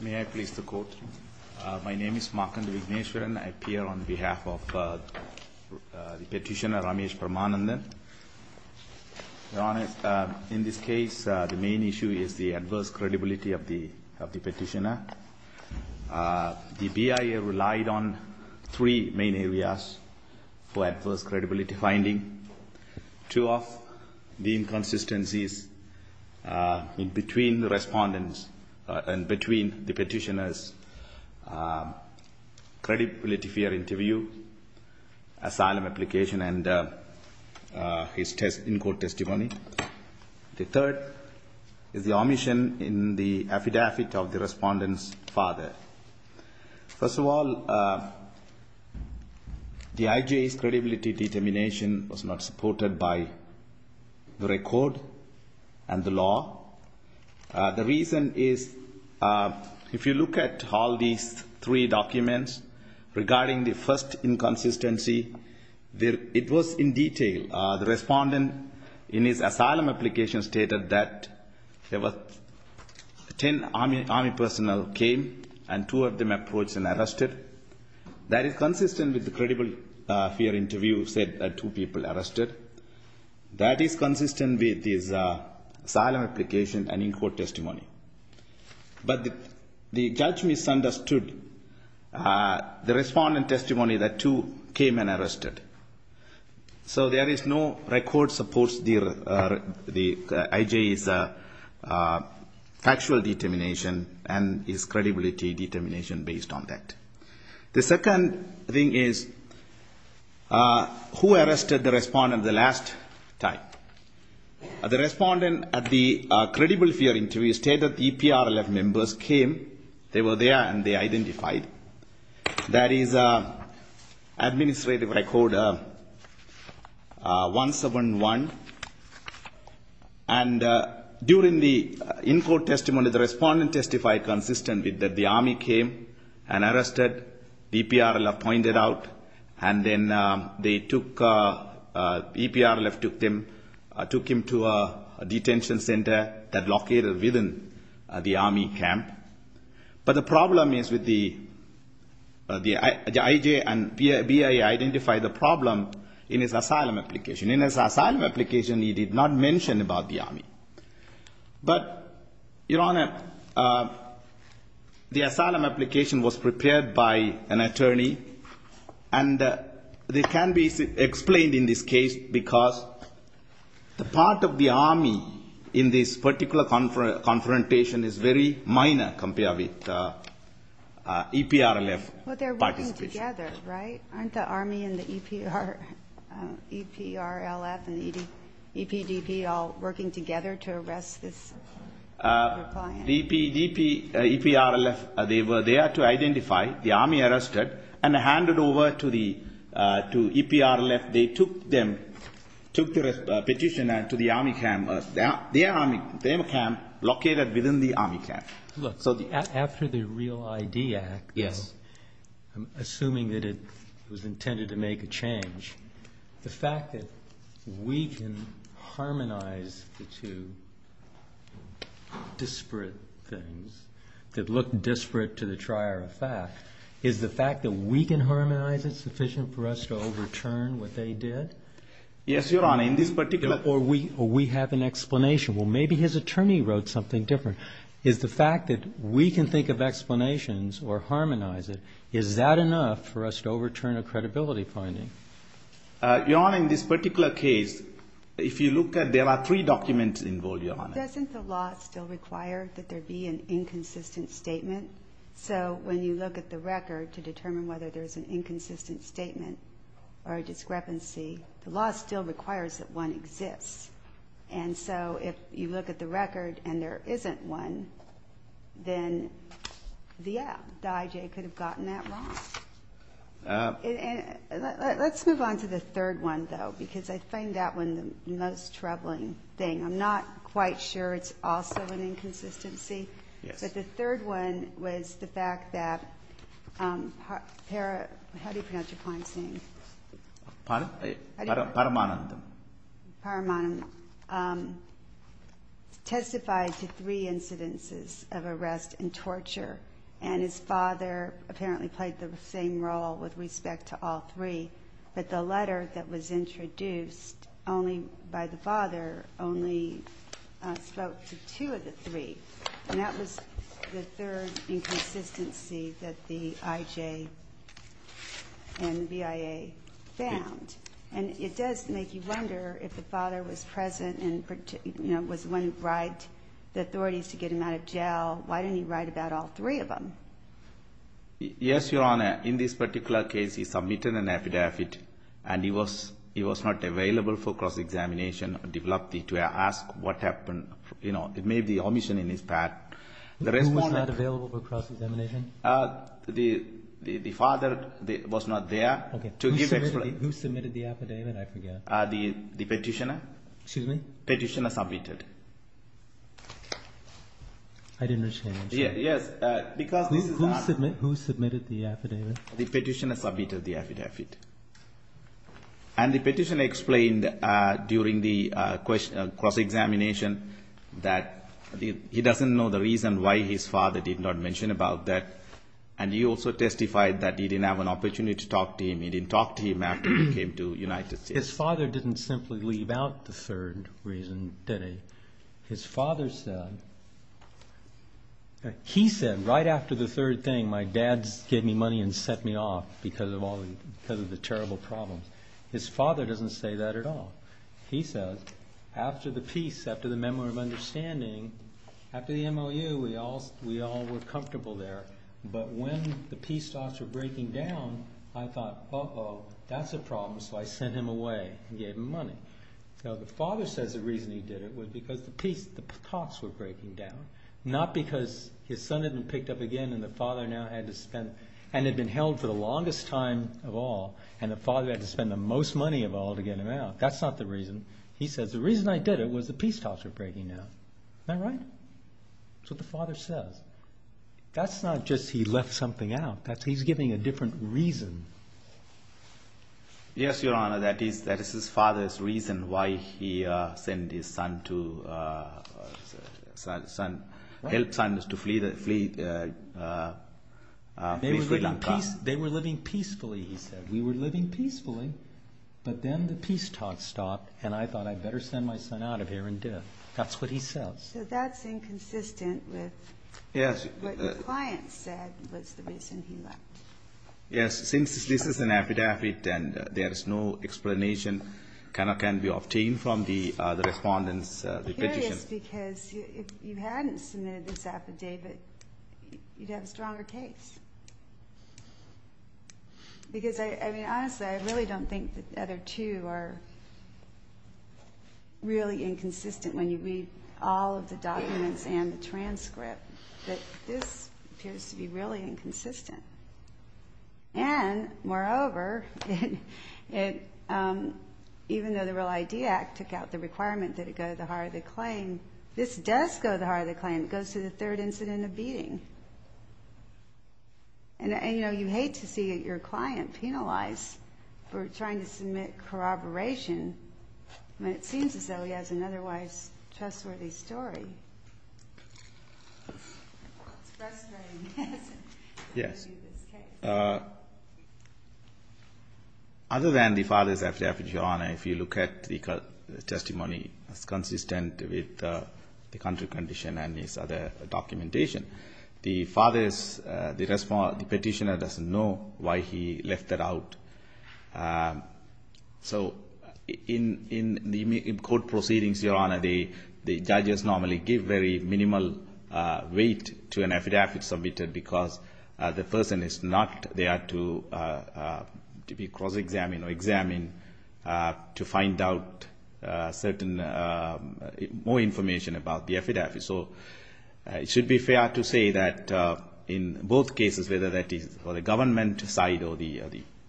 May I please the court? My name is Markandu Vigneshwaran. I appear on behalf of the petitioner Ramesh Paramanathan. Your Honour, in this case the main issue is the adverse credibility of the petitioner. The BIA relied on three main areas for adverse credibility finding. Two of the inconsistencies in between the petitioner's credibility fear interview, asylum application and his in-court testimony. The third is the omission in the affidavit of the respondent's father. First of all, the IJA's credibility determination was not supported by the record and the law. The reason is if you look at all these three documents regarding the first inconsistency, it was in detail. The respondent in his asylum application stated that ten army personnel came and two of them approached and arrested. That is consistent with the credibility fear interview that two people arrested. That is consistent with his asylum application and in-court testimony. But the judge misunderstood the respondent's testimony that two came and arrested. So there is no record that supports the IJA's factual determination and his credibility determination based on that. The second thing is who arrested the respondent the last time? The respondent at the credible fear interview stated that the EPRLF members came, they were there and they identified. That is administrative record 171. And during the in-court testimony, the respondent testified consistently that the army came and arrested. The EPRLF pointed out and then they took, the EPRLF took him to a detention center that located within the army camp. But the problem is with the IJA and BIA identified the problem in his asylum application. In his asylum application, he did not mention about the army. But, Your Honor, the asylum application was prepared by an attorney. And it can be explained in this case because the part of the army in this particular confrontation is very minor compared with EPRLF participation. But they're working together, right? Aren't the army and the EPRLF and the EPDP all working together to arrest this? The EPDP, EPRLF, they were there to identify the army arrested and handed over to the EPRLF. They took them, took the petitioner to the army camp. Their army, their camp located within the army camp. Look, after the Real ID Act, assuming that it was intended to make a change, the fact that we can harmonize the two disparate things that look disparate to the trier of fact, is the fact that we can harmonize it sufficient for us to overturn what they did? Yes, Your Honor. In this particular… Or we have an explanation. Well, maybe his attorney wrote something different. Is the fact that we can think of explanations or harmonize it, is that enough for us to overturn a credibility finding? Your Honor, in this particular case, if you look at, there are three documents involved, Your Honor. Doesn't the law still require that there be an inconsistent statement? So when you look at the record to determine whether there's an inconsistent statement or a discrepancy, the law still requires that one exists. And so if you look at the record and there isn't one, then, yeah, the IJ could have gotten that wrong. Let's move on to the third one, though, because I find that one the most troubling thing. I'm not quite sure it's also an inconsistency. Yes. But the third one was the fact that… How do you pronounce your client's name? Paramanandam. Paramanandam testified to three incidences of arrest and torture. And his father apparently played the same role with respect to all three. But the letter that was introduced only by the father only spoke to two of the three. And that was the third inconsistency that the IJ and the BIA found. And it does make you wonder if the father was present and, you know, was the one who bribed the authorities to get him out of jail, why didn't he write about all three of them? Yes, Your Honor. In this particular case, he submitted an affidavit, and he was not available for cross-examination. I developed it to ask what happened. You know, it made the omission in his part. Who was not available for cross-examination? The father was not there. Okay. Who submitted the affidavit? I forget. The petitioner. Excuse me? Petitioner submitted. I didn't understand. Yes, because this is an affidavit. Who submitted the affidavit? The petitioner submitted the affidavit. And the petitioner explained during the cross-examination that he doesn't know the reason why his father did not mention about that. And he also testified that he didn't have an opportunity to talk to him. He didn't talk to him after he came to the United States. His father didn't simply leave out the third reason, did he? His father said, he said right after the third thing, my dad gave me money and set me off because of the terrible problems. His father doesn't say that at all. He says, after the peace, after the memory of understanding, after the MOU, we all were comfortable there. But when the peace talks were breaking down, I thought, uh-oh, that's a problem. So I sent him away and gave him money. So the father says the reason he did it was because the peace talks were breaking down, not because his son had been picked up again and the father now had to spend, and had been held for the longest time of all, and the father had to spend the most money of all to get him out. That's not the reason. He says, the reason I did it was the peace talks were breaking down. Isn't that right? That's what the father says. That's not just he left something out. He's giving a different reason. Yes, Your Honor, that is his father's reason why he sent his son to help sons to flee. They were living peacefully, he said. We were living peacefully, but then the peace talks stopped, and I thought I better send my son out of here in death. That's what he says. So that's inconsistent with what your client said was the reason he left. Yes, since this is an affidavit and there is no explanation can be obtained from the respondent's petition. It's because if you hadn't submitted this affidavit, you'd have a stronger case. Because, I mean, honestly, I really don't think the other two are really inconsistent when you read all of the documents and the transcript. This appears to be really inconsistent. And, moreover, even though the Real ID Act took out the requirement that it go to the hire of the claim, it goes to the third incident of beating. And, you know, you hate to see your client penalized for trying to submit corroboration when it seems as though he has an otherwise trustworthy story. It's frustrating. Yes. Other than the father's affidavit, Your Honor, if you look at the testimony, it's consistent with the country condition and his other documentation. The father's petitioner doesn't know why he left that out. So in court proceedings, Your Honor, the judges normally give very minimal weight to an affidavit submitted because the person is not there to be cross-examined or examined to find out certain more information about the affidavit. So it should be fair to say that in both cases, whether that is for the government side or the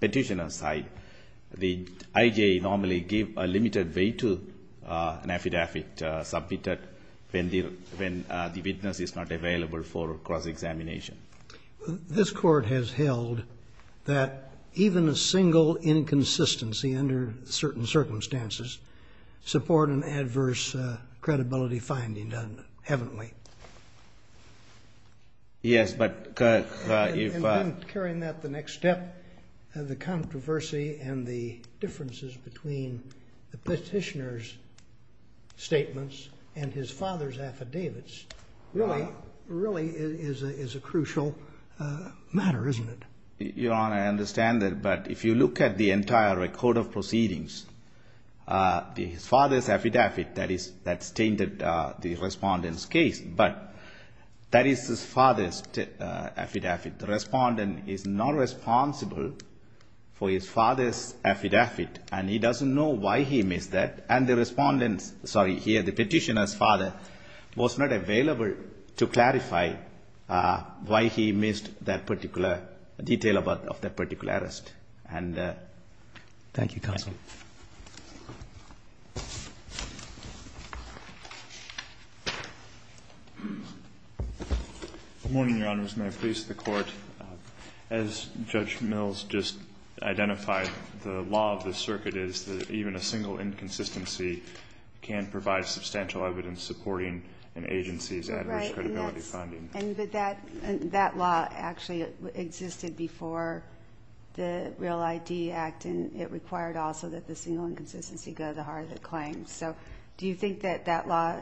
petitioner side, the IJA normally give a limited weight to an affidavit submitted when the witness is not available for cross-examination. This Court has held that even a single inconsistency under certain circumstances support an adverse credibility finding, doesn't it? Haven't we? Yes, but, if I... Just carrying that to the next step, the controversy and the differences between the petitioner's statements and his father's affidavits really is a crucial matter, isn't it? Your Honor, I understand that, but if you look at the entire record of proceedings, the father's affidavit, that's changed the respondent's case, but that is his father's affidavit. The respondent is not responsible for his father's affidavit, and he doesn't know why he missed that, and the respondent's... Sorry, here, the petitioner's father was not available to clarify why he missed that particular detail of that particular arrest. And... Thank you, Counsel. Good morning, Your Honors, and may it please the Court. As Judge Mills just identified, the law of the circuit is that even a single inconsistency can provide substantial evidence supporting an agency's adverse credibility finding. And that law actually existed before the Real ID Act, and it required also that the single inconsistency go to the heart of the claim. So do you think that that law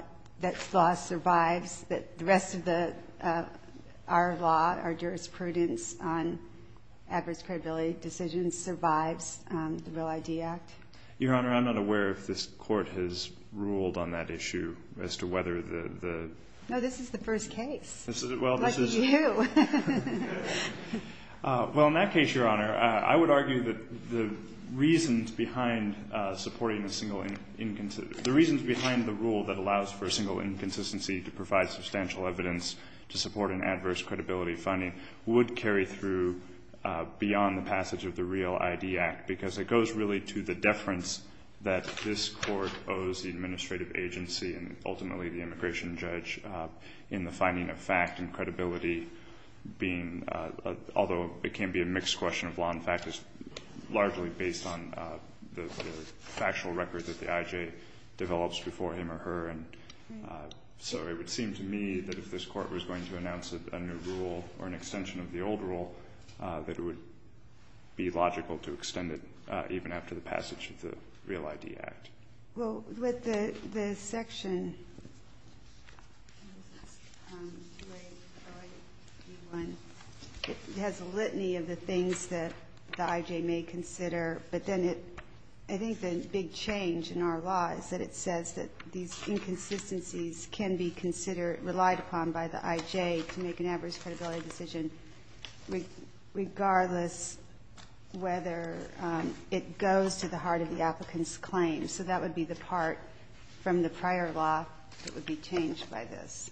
survives, that the rest of our law, our jurisprudence on adverse credibility decisions, survives the Real ID Act? Your Honor, I'm not aware if this Court has ruled on that issue as to whether the... No, this is the first case. Well, this is... Lucky you. Well, in that case, Your Honor, I would argue that the reasons behind supporting a single inconsistency, the reasons behind the rule that allows for a single inconsistency to provide substantial evidence to support an adverse credibility finding would carry through beyond the passage of the Real ID Act, because it goes really to the deference that this Court owes the administrative agency and ultimately the immigration judge in the finding of fact and credibility being, although it can be a mixed question of law and fact, is largely based on the factual record that the I.J. develops before him or her. And so it would seem to me that if this Court was going to announce a new rule or an extension of the old rule, that it would be logical to extend it even after the passage of the Real ID Act. Well, with the section, it has a litany of the things that the I.J. may consider, but then it, I think the big change in our law is that it says that these inconsistencies can be considered, relied upon by the I.J. to make an adverse credibility decision regardless whether it goes to the heart of the applicant's claim. So that would be the part from the prior law that would be changed by this.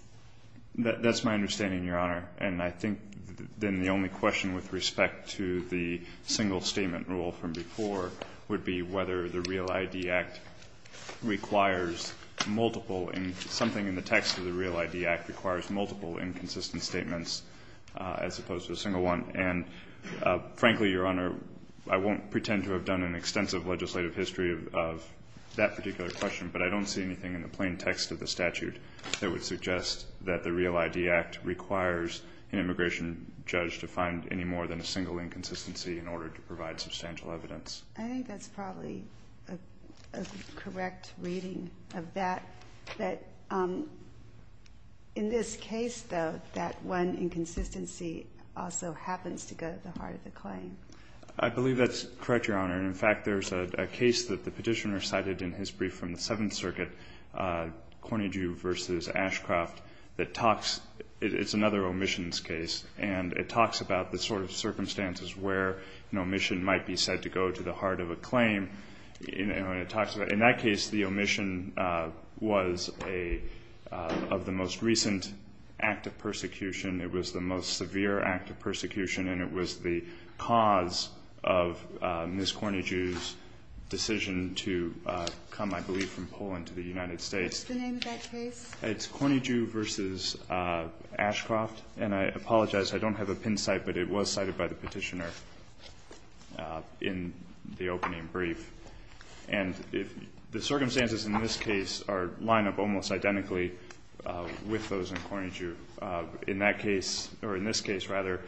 That's my understanding, Your Honor. And I think then the only question with respect to the single statement rule from before would be whether the Real ID Act requires multiple, something in the text of the Real ID Act requires multiple inconsistent statements as opposed to a single one. And frankly, Your Honor, I won't pretend to have done an extensive legislative history of that particular question, but I don't see anything in the plain text of the statute that would suggest that the Real ID Act requires an immigration judge to find any more than a single inconsistency in order to provide substantial evidence. I think that's probably a correct reading of that, that in this case, though, that one inconsistency also happens to go to the heart of the claim. I believe that's correct, Your Honor. And, in fact, there's a case that the Petitioner cited in his brief from the Seventh Circuit, Corny Jew v. Ashcroft, that talks, it's another omissions case, and it talks about the sort of circumstances where an omission might be said to go to the heart of a claim. In that case, the omission was of the most recent act of persecution. It was the most severe act of persecution, and it was the cause of Ms. Corny Jew's decision to come, I believe, from Poland to the United States. What's the name of that case? It's Corny Jew v. Ashcroft. And I apologize. I don't have a pin cite, but it was cited by the Petitioner in the opening brief. And the circumstances in this case are lined up almost identically with those in Corny Jew. In that case, or in this case, rather,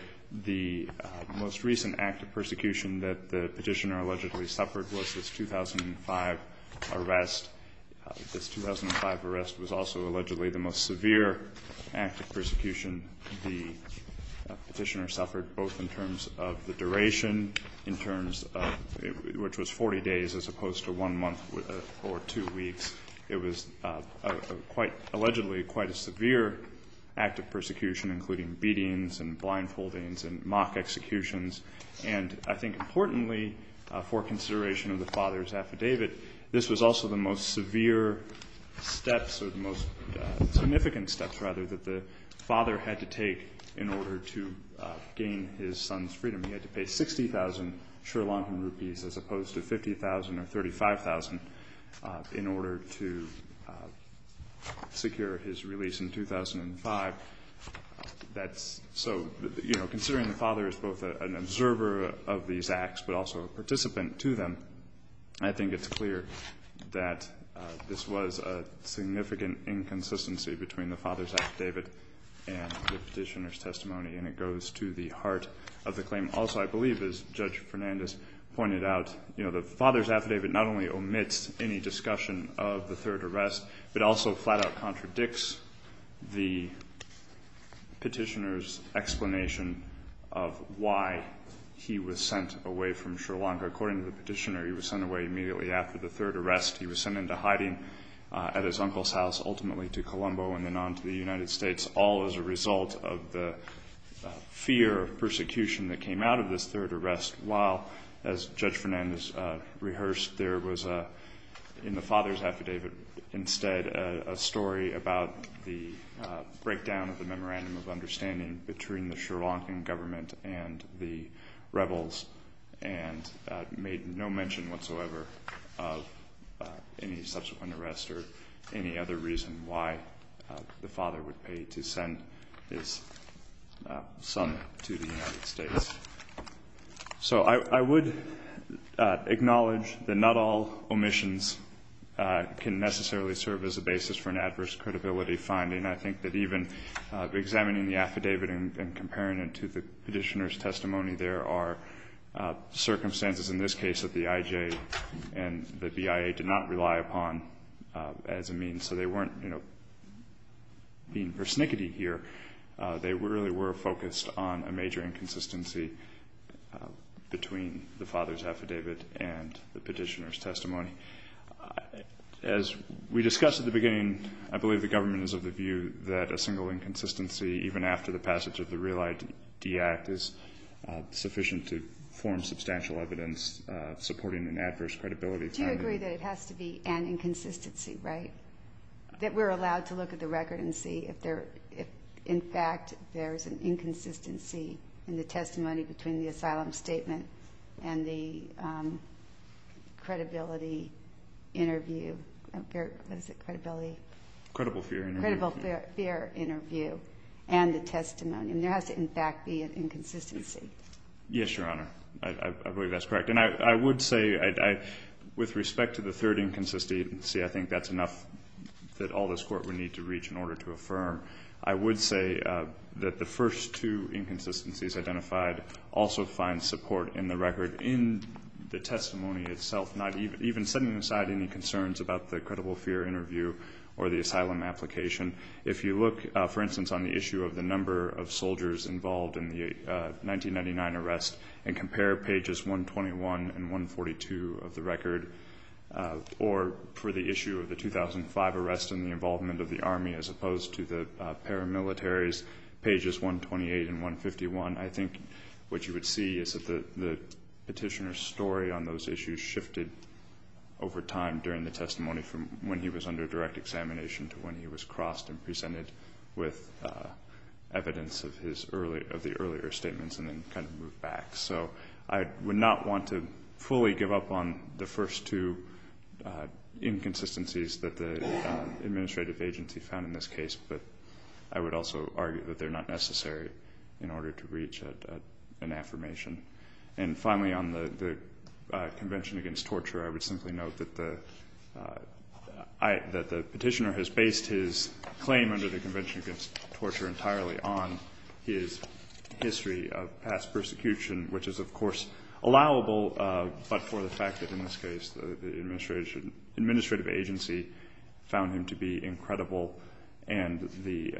the most recent act of persecution that the Petitioner allegedly suffered was this 2005 arrest. This 2005 arrest was also allegedly the most severe act of persecution the Petitioner suffered, both in terms of the duration, in terms of which was 40 days as opposed to one month or two weeks. It was quite allegedly quite a severe act of persecution, including beatings and blindfoldings and mock executions. And I think importantly, for consideration of the father's affidavit, this was also the most severe steps or the most significant steps, rather, that the father had to take in order to gain his son's freedom. He had to pay 60,000 Sri Lankan rupees as opposed to 50,000 or 35,000 in order to secure his release in 2005. So, you know, considering the father is both an observer of these acts but also a witness, I think that this was a significant inconsistency between the father's affidavit and the Petitioner's testimony, and it goes to the heart of the claim. Also, I believe, as Judge Fernandez pointed out, you know, the father's affidavit not only omits any discussion of the third arrest but also flat-out contradicts the Petitioner's explanation of why he was sent away from Sri Lanka. According to the Petitioner, he was sent away immediately after the third arrest. He was sent into hiding at his uncle's house, ultimately to Colombo and then on to the United States, all as a result of the fear of persecution that came out of this third arrest, while, as Judge Fernandez rehearsed, there was in the father's affidavit instead a story about the breakdown of the memorandum of understanding between the made no mention whatsoever of any subsequent arrest or any other reason why the father would pay to send his son to the United States. So I would acknowledge that not all omissions can necessarily serve as a basis for an adverse credibility finding. I think that even examining the affidavit and comparing it to the Petitioner's testimony, there are circumstances in this case that the IJ and the BIA did not rely upon as a means. So they weren't, you know, being persnickety here. They really were focused on a major inconsistency between the father's affidavit and the Petitioner's testimony. As we discussed at the beginning, I believe the government is of the view that a single inconsistency, even after the passage of the Real ID Act, is sufficient to form substantial evidence supporting an adverse credibility finding. Do you agree that it has to be an inconsistency, right? That we're allowed to look at the record and see if, in fact, there's an inconsistency in the testimony between the asylum statement and the credibility interview? What is it, credibility? Credible fear interview. Credible fear interview and the testimony. And there has to, in fact, be an inconsistency. Yes, Your Honor. I believe that's correct. And I would say, with respect to the third inconsistency, I think that's enough that all this Court would need to reach in order to affirm. I would say that the first two inconsistencies identified also find support in the record in the testimony itself, not even setting aside any concerns about the asylum application. If you look, for instance, on the issue of the number of soldiers involved in the 1999 arrest and compare pages 121 and 142 of the record, or for the issue of the 2005 arrest and the involvement of the Army as opposed to the paramilitaries, pages 128 and 151, I think what you would see is that the Petitioner's story on those issues shifted over time during the testimony from when he was under direct examination to when he was crossed and presented with evidence of the earlier statements and then kind of moved back. So I would not want to fully give up on the first two inconsistencies that the administrative agency found in this case, but I would also argue that they're not necessary in order to reach an affirmation. And finally, on the Convention Against Torture, I would simply note that the Petitioner has based his claim under the Convention Against Torture entirely on his history of past persecution, which is, of course, allowable, but for the fact that in this case the administrative agency found him to be incredible and the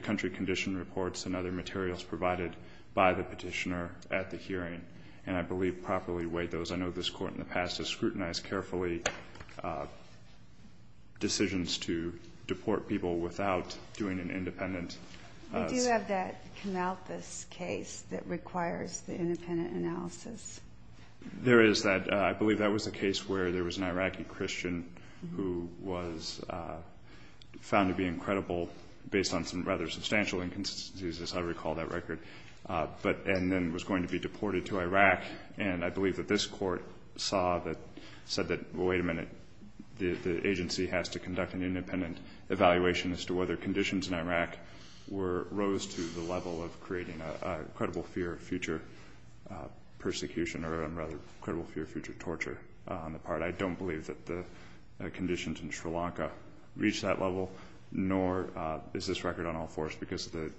country condition reports and other materials provided by the Petitioner at the hearing, and I believe properly weighed those. I know this Court in the past has scrutinized carefully decisions to deport people without doing an independent... We do have that Knauthus case that requires the independent analysis. There is that. I believe that was the case where there was an Iraqi Christian who was found to be incredible based on some rather substantial inconsistencies, as I recall that record, and then was going to be deported to Iraq. And I believe that this Court saw that, said that, wait a minute, the agency has to conduct an independent evaluation as to whether conditions in Iraq rose to the level of creating a credible fear of future persecution, or rather credible fear of future persecution in Iraq reached that level, nor is this record on all fours because the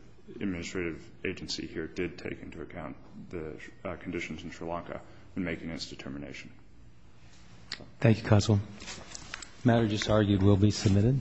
administrative agency here did take into account the conditions in Sri Lanka in making this determination. Thank you, Counsel. The matter just argued will be submitted.